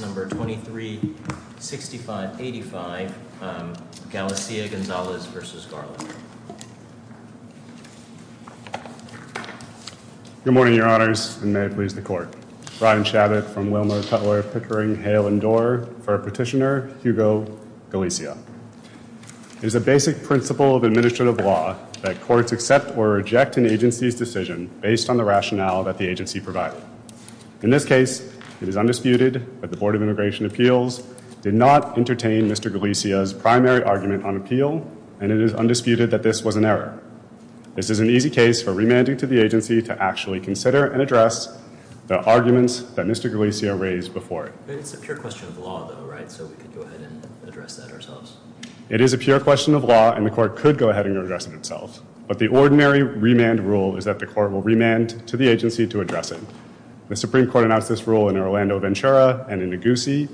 2365-85, Galicia-Gonzalez v. Garland. Good morning, your honors, and may it please the court. Brian Chabot from Wilmer, Cutler, Pickering, Hale, and Dorr for Petitioner Hugo Galicia. It is a basic principle of administrative law that courts accept or reject an agency's decision based on the rationale that the agency provided. In this case, it is undisputed that the Board of Immigration Appeals did not entertain Mr. Galicia's primary argument on appeal, and it is undisputed that this was an error. This is an easy case for remanding to the agency to actually consider and address the arguments that Mr. Galicia raised before it. It's a pure question of law, though, right? So we could go ahead and address that ourselves. It is a pure question of law, and the court could go ahead and address it itself. But the ordinary remand rule is that the court will remand to the agency to address it. The Supreme Court announced this rule in Orlando Ventura and in Neguse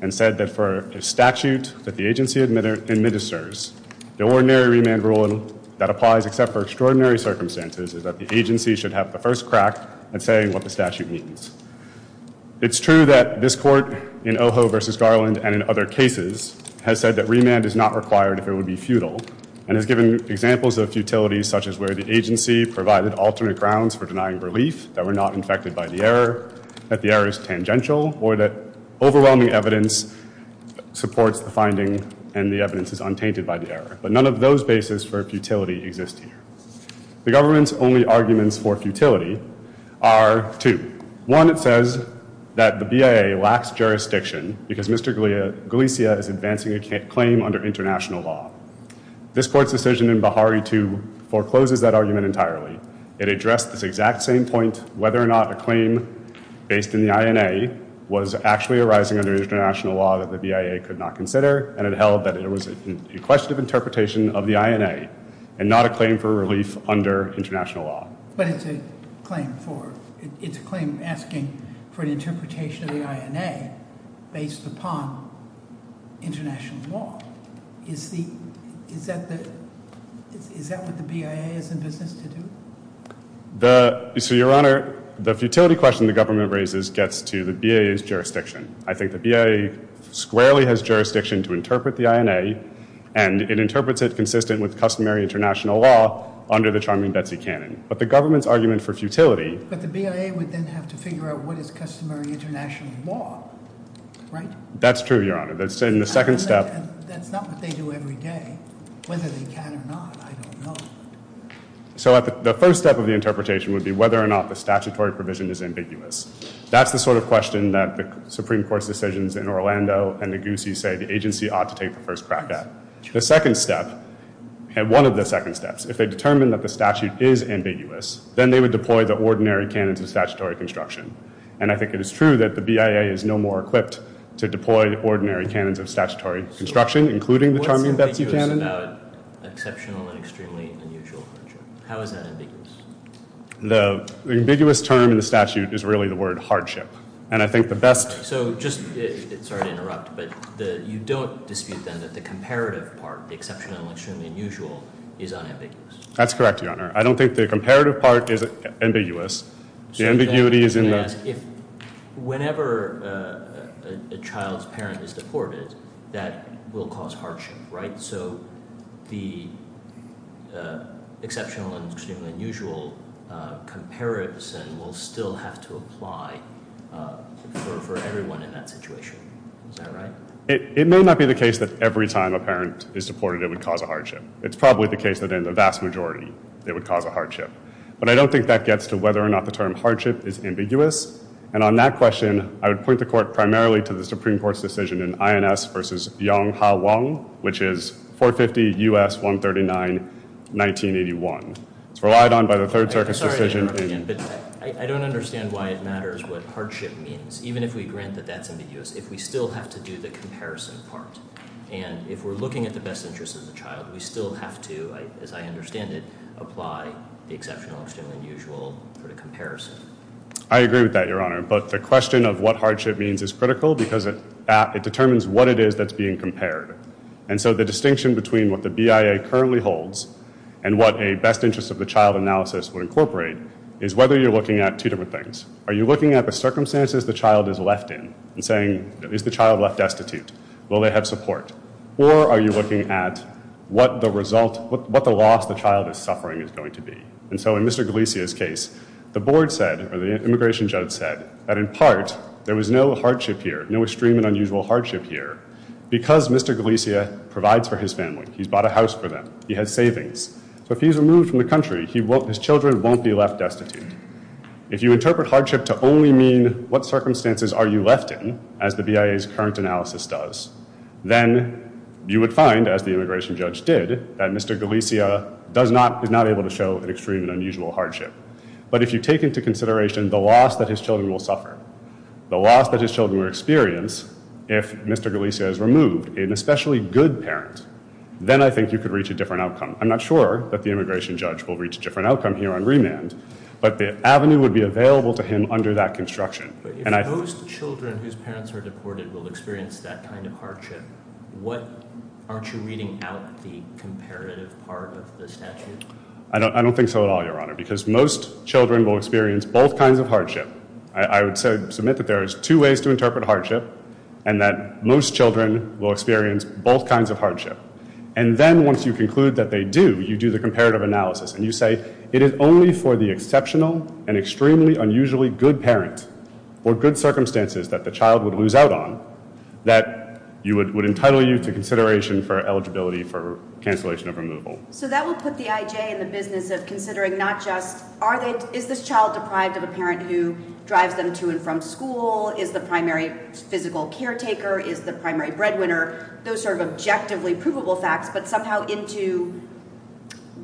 and said that for a statute that the agency administers, the ordinary remand rule that applies except for extraordinary circumstances is that the agency should have the first crack at saying what the statute means. It's true that this court in Ojo v. Garland and in other cases has said that remand is not required if it would be futile. And has given examples of futility such as where the agency provided alternate grounds for denying relief, that we're not infected by the error, that the error is tangential, or that overwhelming evidence supports the finding and the evidence is untainted by the error. But none of those bases for futility exist here. The government's only arguments for futility are two. One, it says that the BIA lacks jurisdiction because Mr. Galicia is advancing a claim under international law. This court's decision in Bahari 2 forecloses that argument entirely. It addressed this exact same point, whether or not a claim based in the INA was actually arising under international law that the BIA could not consider, and it held that it was a question of interpretation of the INA and not a claim for relief under international law. But it's a claim asking for an interpretation of the INA based upon international law. Is that what the BIA is in business to do? So your honor, the futility question the government raises gets to the BIA's jurisdiction. I think the BIA squarely has jurisdiction to interpret the INA, and it interprets it consistent with customary international law under the charming Betsy Cannon. But the government's argument for futility. But the BIA would then have to figure out what is customary international law, right? That's true, your honor. That's in the second step. That's not what they do every day, whether they can or not, I don't know. So the first step of the interpretation would be whether or not the statutory provision is ambiguous. That's the sort of question that the Supreme Court's decisions in Orlando and the Goosey say the agency ought to take the first crack at. The second step, and one of the second steps, if they determine that the statute is ambiguous, then they would deploy the ordinary canons of statutory construction. And I think it is true that the BIA is no more equipped to deploy ordinary canons of statutory construction, including the charming Betsy Cannon. What's ambiguous about exceptional and extremely unusual hardship? How is that ambiguous? The ambiguous term in the statute is really the word hardship. And I think the best- So just, sorry to interrupt, but you don't dispute then that the comparative part, the exceptional and extremely unusual, is unambiguous. That's correct, your honor. I don't think the comparative part is ambiguous. The ambiguity is in the- If whenever a child's parent is deported, that will cause hardship, right? So the exceptional and exceptional part of the statute has to apply for everyone in that situation, is that right? It may not be the case that every time a parent is deported, it would cause a hardship. It's probably the case that in the vast majority, it would cause a hardship. But I don't think that gets to whether or not the term hardship is ambiguous. And on that question, I would point the court primarily to the Supreme Court's decision in INS versus Yong Ha Wong, which is 450 U.S. 139, 1981. It's relied on by the Third Circuit's decision in- I'm sorry to interrupt again, but I don't understand why it matters what hardship means, even if we grant that that's ambiguous, if we still have to do the comparison part. And if we're looking at the best interest of the child, we still have to, as I understand it, apply the exceptional, extremely unusual for the comparison. I agree with that, your honor. But the question of what hardship means is critical because it determines what it is that's being compared. And so the distinction between what the BIA currently holds and what a best interest of the child analysis would incorporate is whether you're looking at two different things. Are you looking at the circumstances the child is left in and saying, is the child left destitute? Will they have support? Or are you looking at what the result, what the loss the child is suffering is going to be? And so in Mr. Galicia's case, the board said, or the immigration judge said, that in part, there was no hardship here, no extreme and unusual hardship here. Because Mr. Galicia provides for his family, he's bought a house for them, he has savings. So if he's removed from the country, his children won't be left destitute. If you interpret hardship to only mean what circumstances are you left in, as the BIA's current analysis does, then you would find, as the immigration judge did, that Mr. Galicia is not able to show an extreme and unusual hardship. But if you take into consideration the loss that his children will suffer, the loss that his children will experience if Mr. Galicia is removed, an especially good parent, then I think you could reach a different outcome. I'm not sure that the immigration judge will reach a different outcome here on remand, but the avenue would be available to him under that construction, and I- Most children whose parents are deported will experience that kind of hardship. What, aren't you reading out the comparative part of the statute? I don't think so at all, Your Honor, because most children will experience both kinds of hardship. I would submit that there is two ways to interpret hardship, and that most children will experience both kinds of hardship. And then once you conclude that they do, you do the comparative analysis, and you say, it is only for the exceptional and extremely unusually good parent, or good circumstances that the child would lose out on, that you would entitle you to consideration for eligibility for cancellation of removal. So that will put the IJ in the business of considering not just, is this child deprived of a parent who drives them to and from school, is the primary physical caretaker, is the primary breadwinner, those sort of objectively provable facts, but somehow into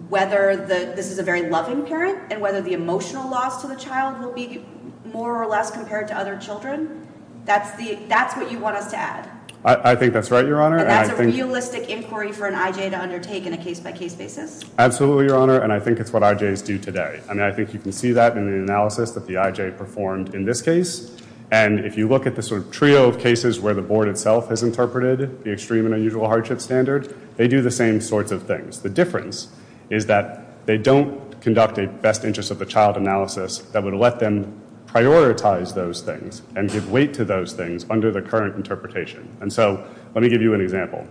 whether this is a very loving parent, and whether the emotional loss to the child will be more or less compared to other children. That's what you want us to add. I think that's right, Your Honor. But that's a realistic inquiry for an IJ to undertake in a case by case basis? Absolutely, Your Honor, and I think it's what IJs do today. I mean, I think you can see that in the analysis that the IJ performed in this case. And if you look at the sort of trio of cases where the board itself has interpreted the extreme and unusual hardship standard, they do the same sorts of things. The difference is that they don't conduct a best interest of the child analysis that would let them prioritize those things and give weight to those things under the current interpretation. And so let me give you an example.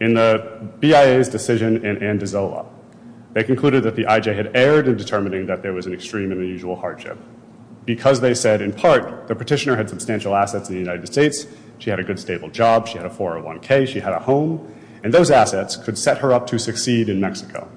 In the BIA's decision in Andazola, they concluded that the IJ had erred in determining that there was an extreme and unusual hardship because they said, in part, the petitioner had substantial assets in the United States, she had a good stable job, she had a 401k, she had a home, and those assets could set her up to succeed in Mexico.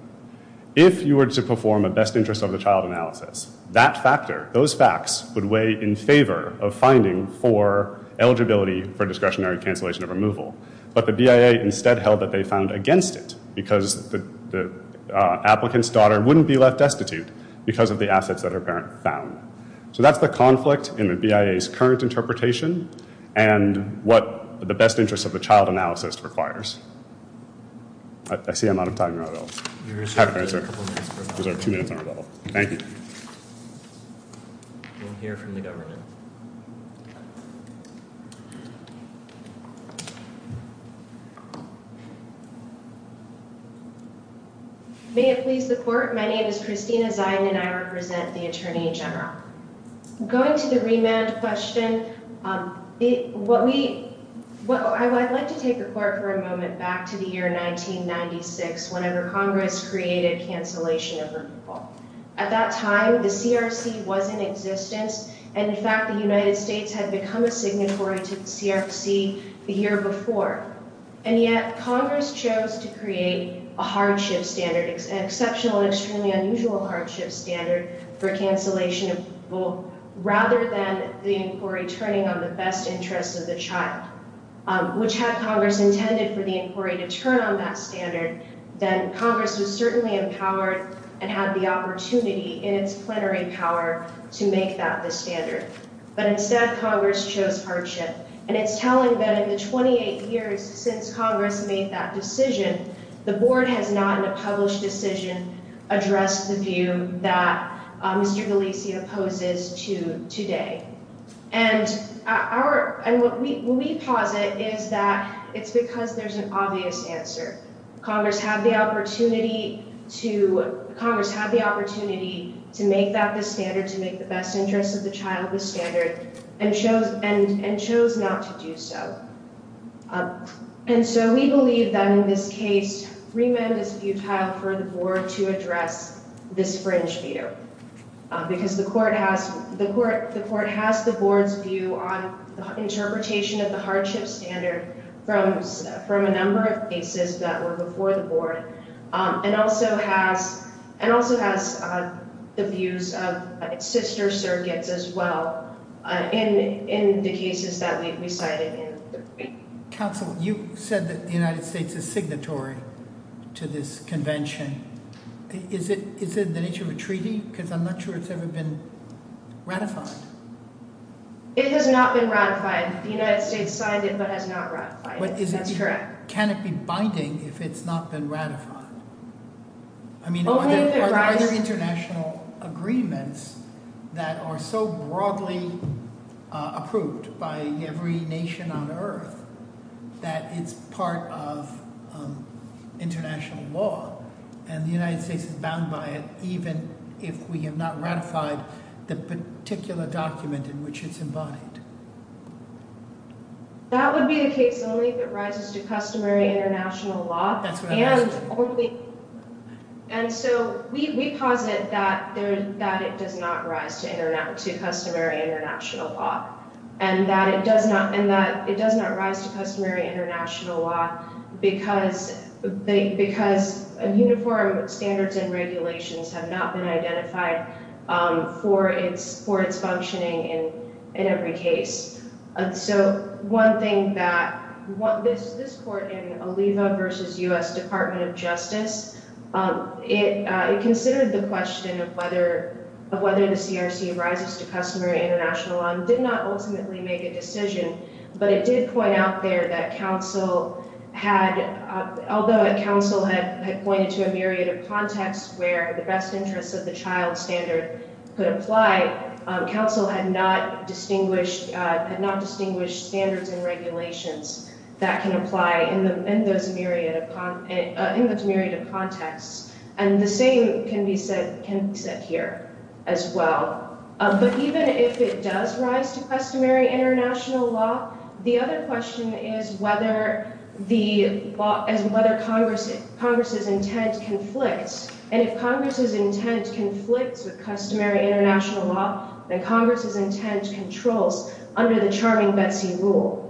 If you were to perform a best interest of the child analysis, that factor, those facts would weigh in favor of finding for eligibility for discretionary cancellation of removal. But the BIA instead held that they found against it because the applicant's daughter wouldn't be left destitute because of the assets that her parent found. So that's the conflict in the BIA's current interpretation and what the best interest of the child analysis requires. You have a couple minutes for a follow-up. I reserve two minutes on a follow-up. Thank you. We'll hear from the government. May it please the court, my name is Christina Ziden and I represent the Attorney General. Going to the remand question, I'd like to take the court for a moment back to the year 1996 whenever Congress created cancellation of removal. At that time, the CRC was in existence and in fact, the United States had become a signatory to the CRC the year before. And yet, Congress chose to create a hardship standard, an exceptional and extremely unusual hardship standard for cancellation of removal rather than the inquiry turning on the best interest of the child, which had Congress intended for the inquiry to turn on that standard, then Congress was certainly empowered and had the opportunity in its plenary power to make that the standard. But instead, Congress chose hardship. And it's telling that in the 28 years since Congress made that decision, the board has not in a published decision addressed the view that Mr. DeLisi opposes to today. And what we posit is that it's because there's an obvious answer. Congress had the opportunity to make that the standard, to make the best interest of the child the standard, and chose not to do so. And so we believe that in this case, remand is futile for the board to address this fringe feeder because the court has the board's view on the interpretation of the hardship standard from a number of cases that were before the board and also has the views of its sister surrogates as well in the cases that we've recited. Counsel, you said that the United States is signatory to this convention. Is it the nature of a treaty? Because I'm not sure it's ever been ratified. It has not been ratified. The United States signed it, but has not ratified it. That's correct. Can it be binding if it's not been ratified? I mean, are there international agreements that are so broadly approved by every nation on earth that it's part of international law? And the United States is bound by it even if we have not ratified the particular document in which it's embodied. That would be the case only if it rises to customary international law. That's what I'm asking. And so we posit that it does not rise to customary international law, and that it does not rise to customary international law because uniform standards and regulations have not been identified for its functioning in every case. So one thing that this court in Oliva v. U.S. Department of Justice, it considered the question of whether the CRC rises to customary international law. It did not ultimately make a decision, but it did point out there that counsel had, although counsel had pointed to a myriad of contexts where the best interests of the child standard could apply, counsel had not distinguished standards and regulations that can apply in those myriad of contexts. And the same can be said here as well. But even if it does rise to customary international law, the other question is whether Congress's intent conflicts. And if Congress's intent conflicts with customary international law, then Congress's intent controls under the charming Betsy rule.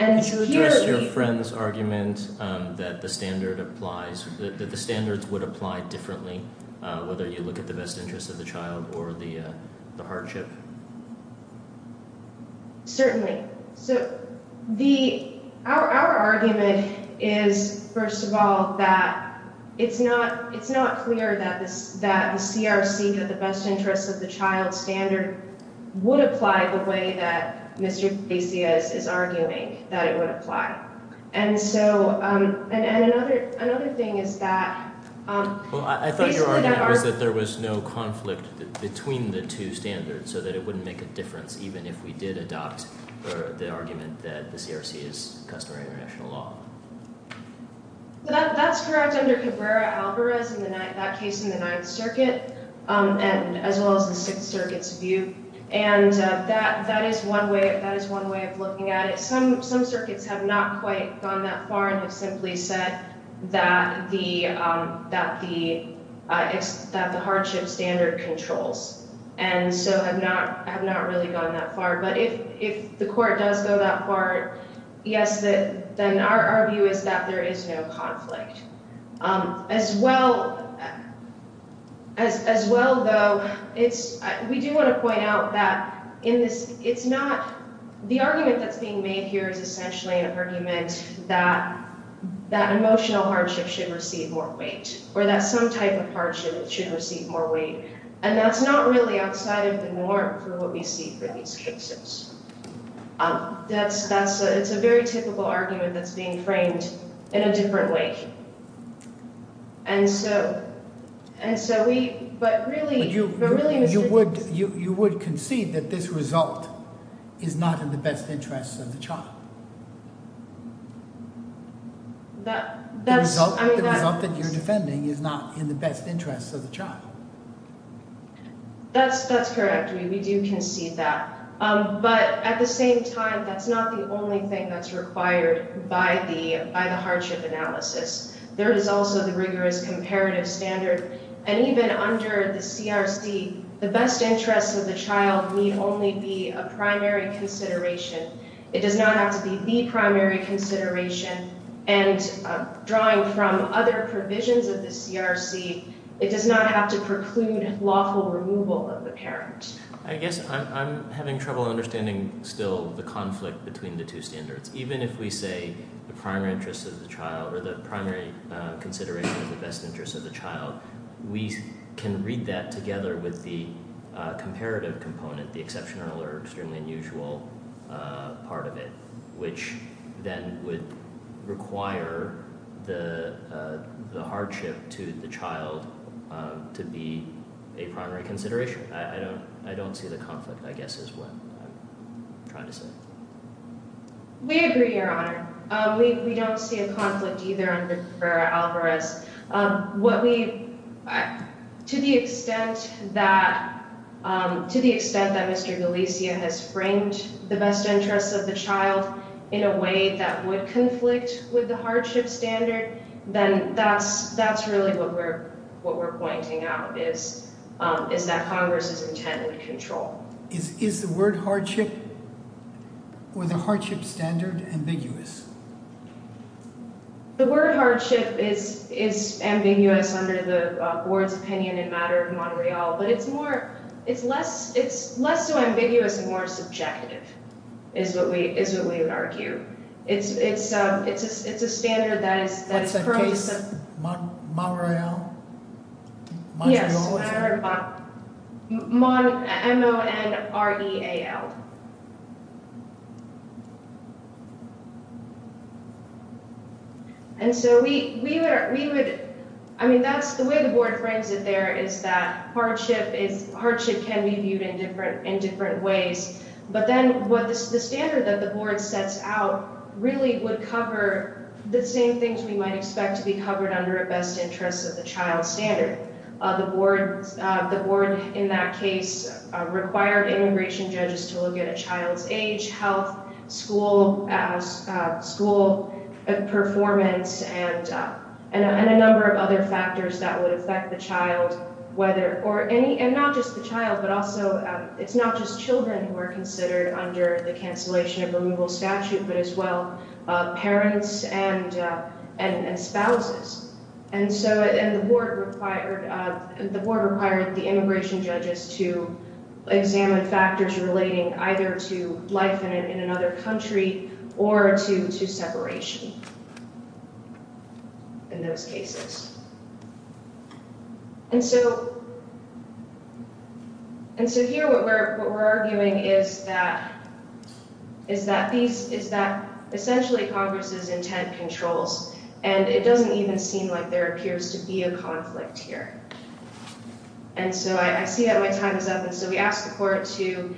And to hear- Did you address your friend's argument that the standard applies, that the standards would apply differently, whether you look at the best interests of the child or the hardship? Certainly. So our argument is, first of all, that it's not clear that the CRC, that the best interests of the child standard would apply the way that Mr. DeCias is arguing that it would apply. And so, and another thing is that- Well, I thought your argument was that there was no conflict between the two standards, so that it wouldn't make a difference, even if we did adopt the argument that the CRC is customary international law. That's correct under Cabrera-Alvarez, that case in the Ninth Circuit, as well as the Sixth Circuit's view. And that is one way of looking at it. Some circuits have not quite gone that far and have simply said that the hardship standard controls, and so have not really gone that far. But if the Court does go that far, yes, then our view is that there is no conflict. As well, though, we do want to point out that in this- it's not- the argument that's being made here is essentially an argument that that emotional hardship should receive more weight, or that some type of hardship should receive more weight. And that's not really outside of the norm for what we see for these cases. That's- it's a very typical argument that's being framed in a different way. And so, we- but really- But you would concede that this result is not in the best interest of the child? That's- I mean, that- The result that you're defending is not in the best interest of the child. That's correct. We do concede that. But at the same time, that's not the only thing that's required by the- by the hardship analysis. There is also the rigorous comparative standard. And even under the CRC, the best interest of the child need only be a primary consideration. It does not have to be the primary consideration. And drawing from other provisions of the CRC, it does not have to preclude lawful removal of the parent. I guess I'm having trouble understanding still the conflict between the two standards. Even if we say the primary interest of the child, or the primary consideration of the best interest of the child, we can read that together with the comparative component, the exceptional or extremely unusual part of it, which then would require the hardship to the child to be a primary consideration. I don't- I don't see the conflict, I guess, is what I'm trying to say. We agree, Your Honor. We don't see a conflict either under Rivera-Alvarez. What we- to the extent that- to the extent that Mr. Galicia has framed the best interest of the child in a way that would conflict with the hardship standard, then that's- that's really what we're- what we're pointing out is- is that Congress is intended to control. Is- is the word hardship or the hardship standard ambiguous? The word hardship is- is ambiguous under the board's opinion in matter of Montreal, but it's more- it's less- it's less so ambiguous and more subjective, is what we- is what we would argue. It's- it's- it's- it's a standard that is- What's that case? Mon- Montreal? Yes, Mon- Mon- M- O- N- R- E- A- L. And so we- we would- we would- I mean, that's the way the board frames it there is that hardship is- hardship can be viewed in different- in different ways, but then what this- the standard that the board sets out really would cover the same things we might expect to be covered under a best interest of the child standard. The board- the board in that case required immigration judges to look at a child's age, health, school- school performance, and- and a number of other factors that would affect the child, whether- or any- and not just the child, but also it's not just children who are considered under the cancellation of removal statute, but as well parents and- and spouses. And so- and the board required- the board required the immigration judges to examine factors relating either to life in another country or to- to And so here what we're- what we're arguing is that- is that these- is that essentially Congress's intent controls, and it doesn't even seem like there appears to be a conflict here. And so I- I see that my time is up, and so we ask the court to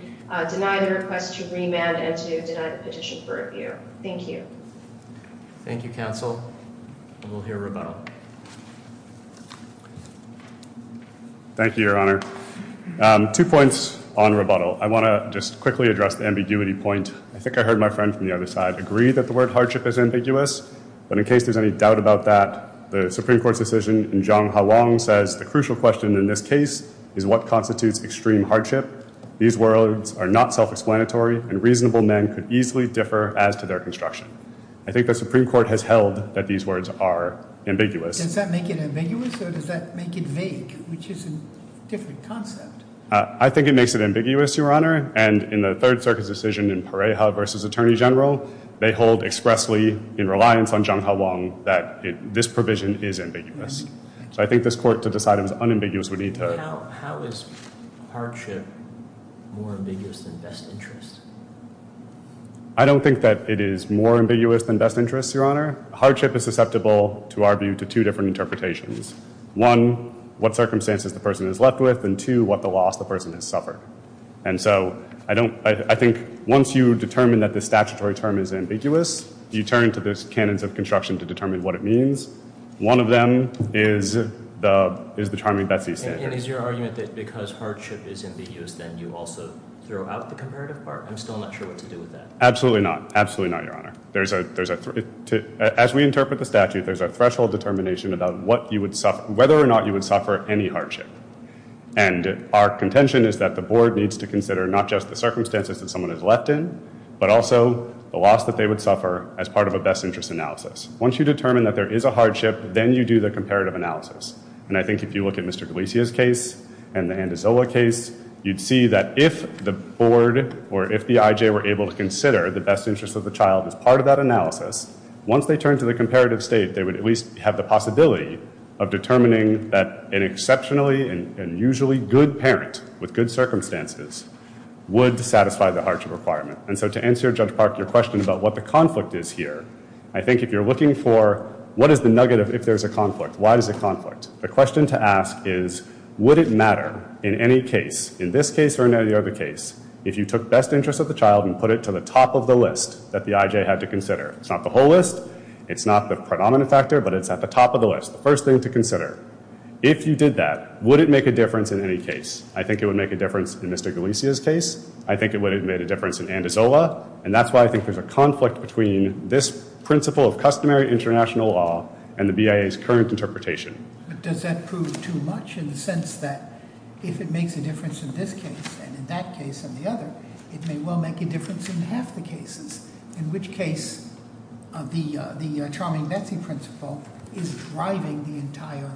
deny the request to remand and to deny the petition for review. Thank you. Thank you, counsel. And we'll hear rebuttal. Thank you, Your Honor. Two points on rebuttal. I want to just quickly address the ambiguity point. I think I heard my friend from the other side agree that the word hardship is ambiguous, but in case there's any doubt about that, the Supreme Court's decision in Zhang Haolong says, the crucial question in this case is what constitutes extreme hardship. These words are not self-explanatory, and reasonable men could easily differ as to their construction. I think the Supreme Court has held that these words are ambiguous. Does that make it ambiguous, or does that make it vague, which is a different concept? I think it makes it ambiguous, Your Honor. And in the Third Circuit's decision in Pareja v. Attorney General, they hold expressly in reliance on Zhang Haolong that this provision is ambiguous. So I think this court, to decide it was unambiguous, would need to- How is hardship more ambiguous than best interest? I don't think that it is more ambiguous than best interest, Your Honor. Hardship is susceptible, to our view, to two different interpretations. One, what circumstances the person is left with, and two, what the loss the person has suffered. And so I think once you determine that the statutory term is ambiguous, you turn to the canons of construction to determine what it means. One of them is the Charming Betsy standard. And is your argument that because hardship is ambiguous, then you also throw out the comparative part? I'm still not sure what to do with that. Absolutely not. Absolutely not, Your Honor. As we interpret the statute, there's a threshold determination about whether or not you would suffer any hardship. And our contention is that the board needs to consider not just the circumstances that someone is left in, but also the loss that they would suffer as part of a best interest analysis. Once you determine that there is a hardship, then you do the comparative analysis. And I think if you look at Mr. Galicia's and the Andazola case, you'd see that if the board or if the IJ were able to consider the best interest of the child as part of that analysis, once they turn to the comparative state, they would at least have the possibility of determining that an exceptionally and usually good parent with good circumstances would satisfy the hardship requirement. And so to answer, Judge Park, your question about what the conflict is here, I think if you're looking for what is the nugget of a conflict, why is it conflict? The question to ask is, would it matter in any case, in this case or in any other case, if you took best interest of the child and put it to the top of the list that the IJ had to consider? It's not the whole list. It's not the predominant factor. But it's at the top of the list, the first thing to consider. If you did that, would it make a difference in any case? I think it would make a difference in Mr. Galicia's case. I think it would have made a difference in Andazola. And that's why I think there's a conflict between this current interpretation. But does that prove too much in the sense that if it makes a difference in this case and in that case and the other, it may well make a difference in half the cases, in which case the Charming Betsy principle is driving the entire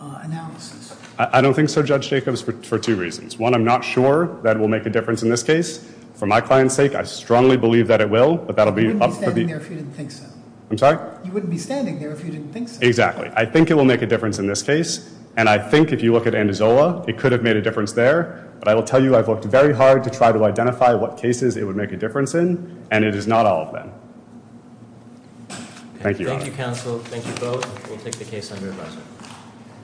analysis? I don't think so, Judge Jacobs, for two reasons. One, I'm not sure that it will make a difference in this case. For my client's sake, I strongly believe that it will, but that'll be up to the- You wouldn't be Exactly. I think it will make a difference in this case. And I think if you look at Andazola, it could have made a difference there. But I will tell you I've worked very hard to try to identify what cases it would make a difference in, and it is not all of them. Thank you. Thank you, counsel. Thank you both. We'll take the case under advisory.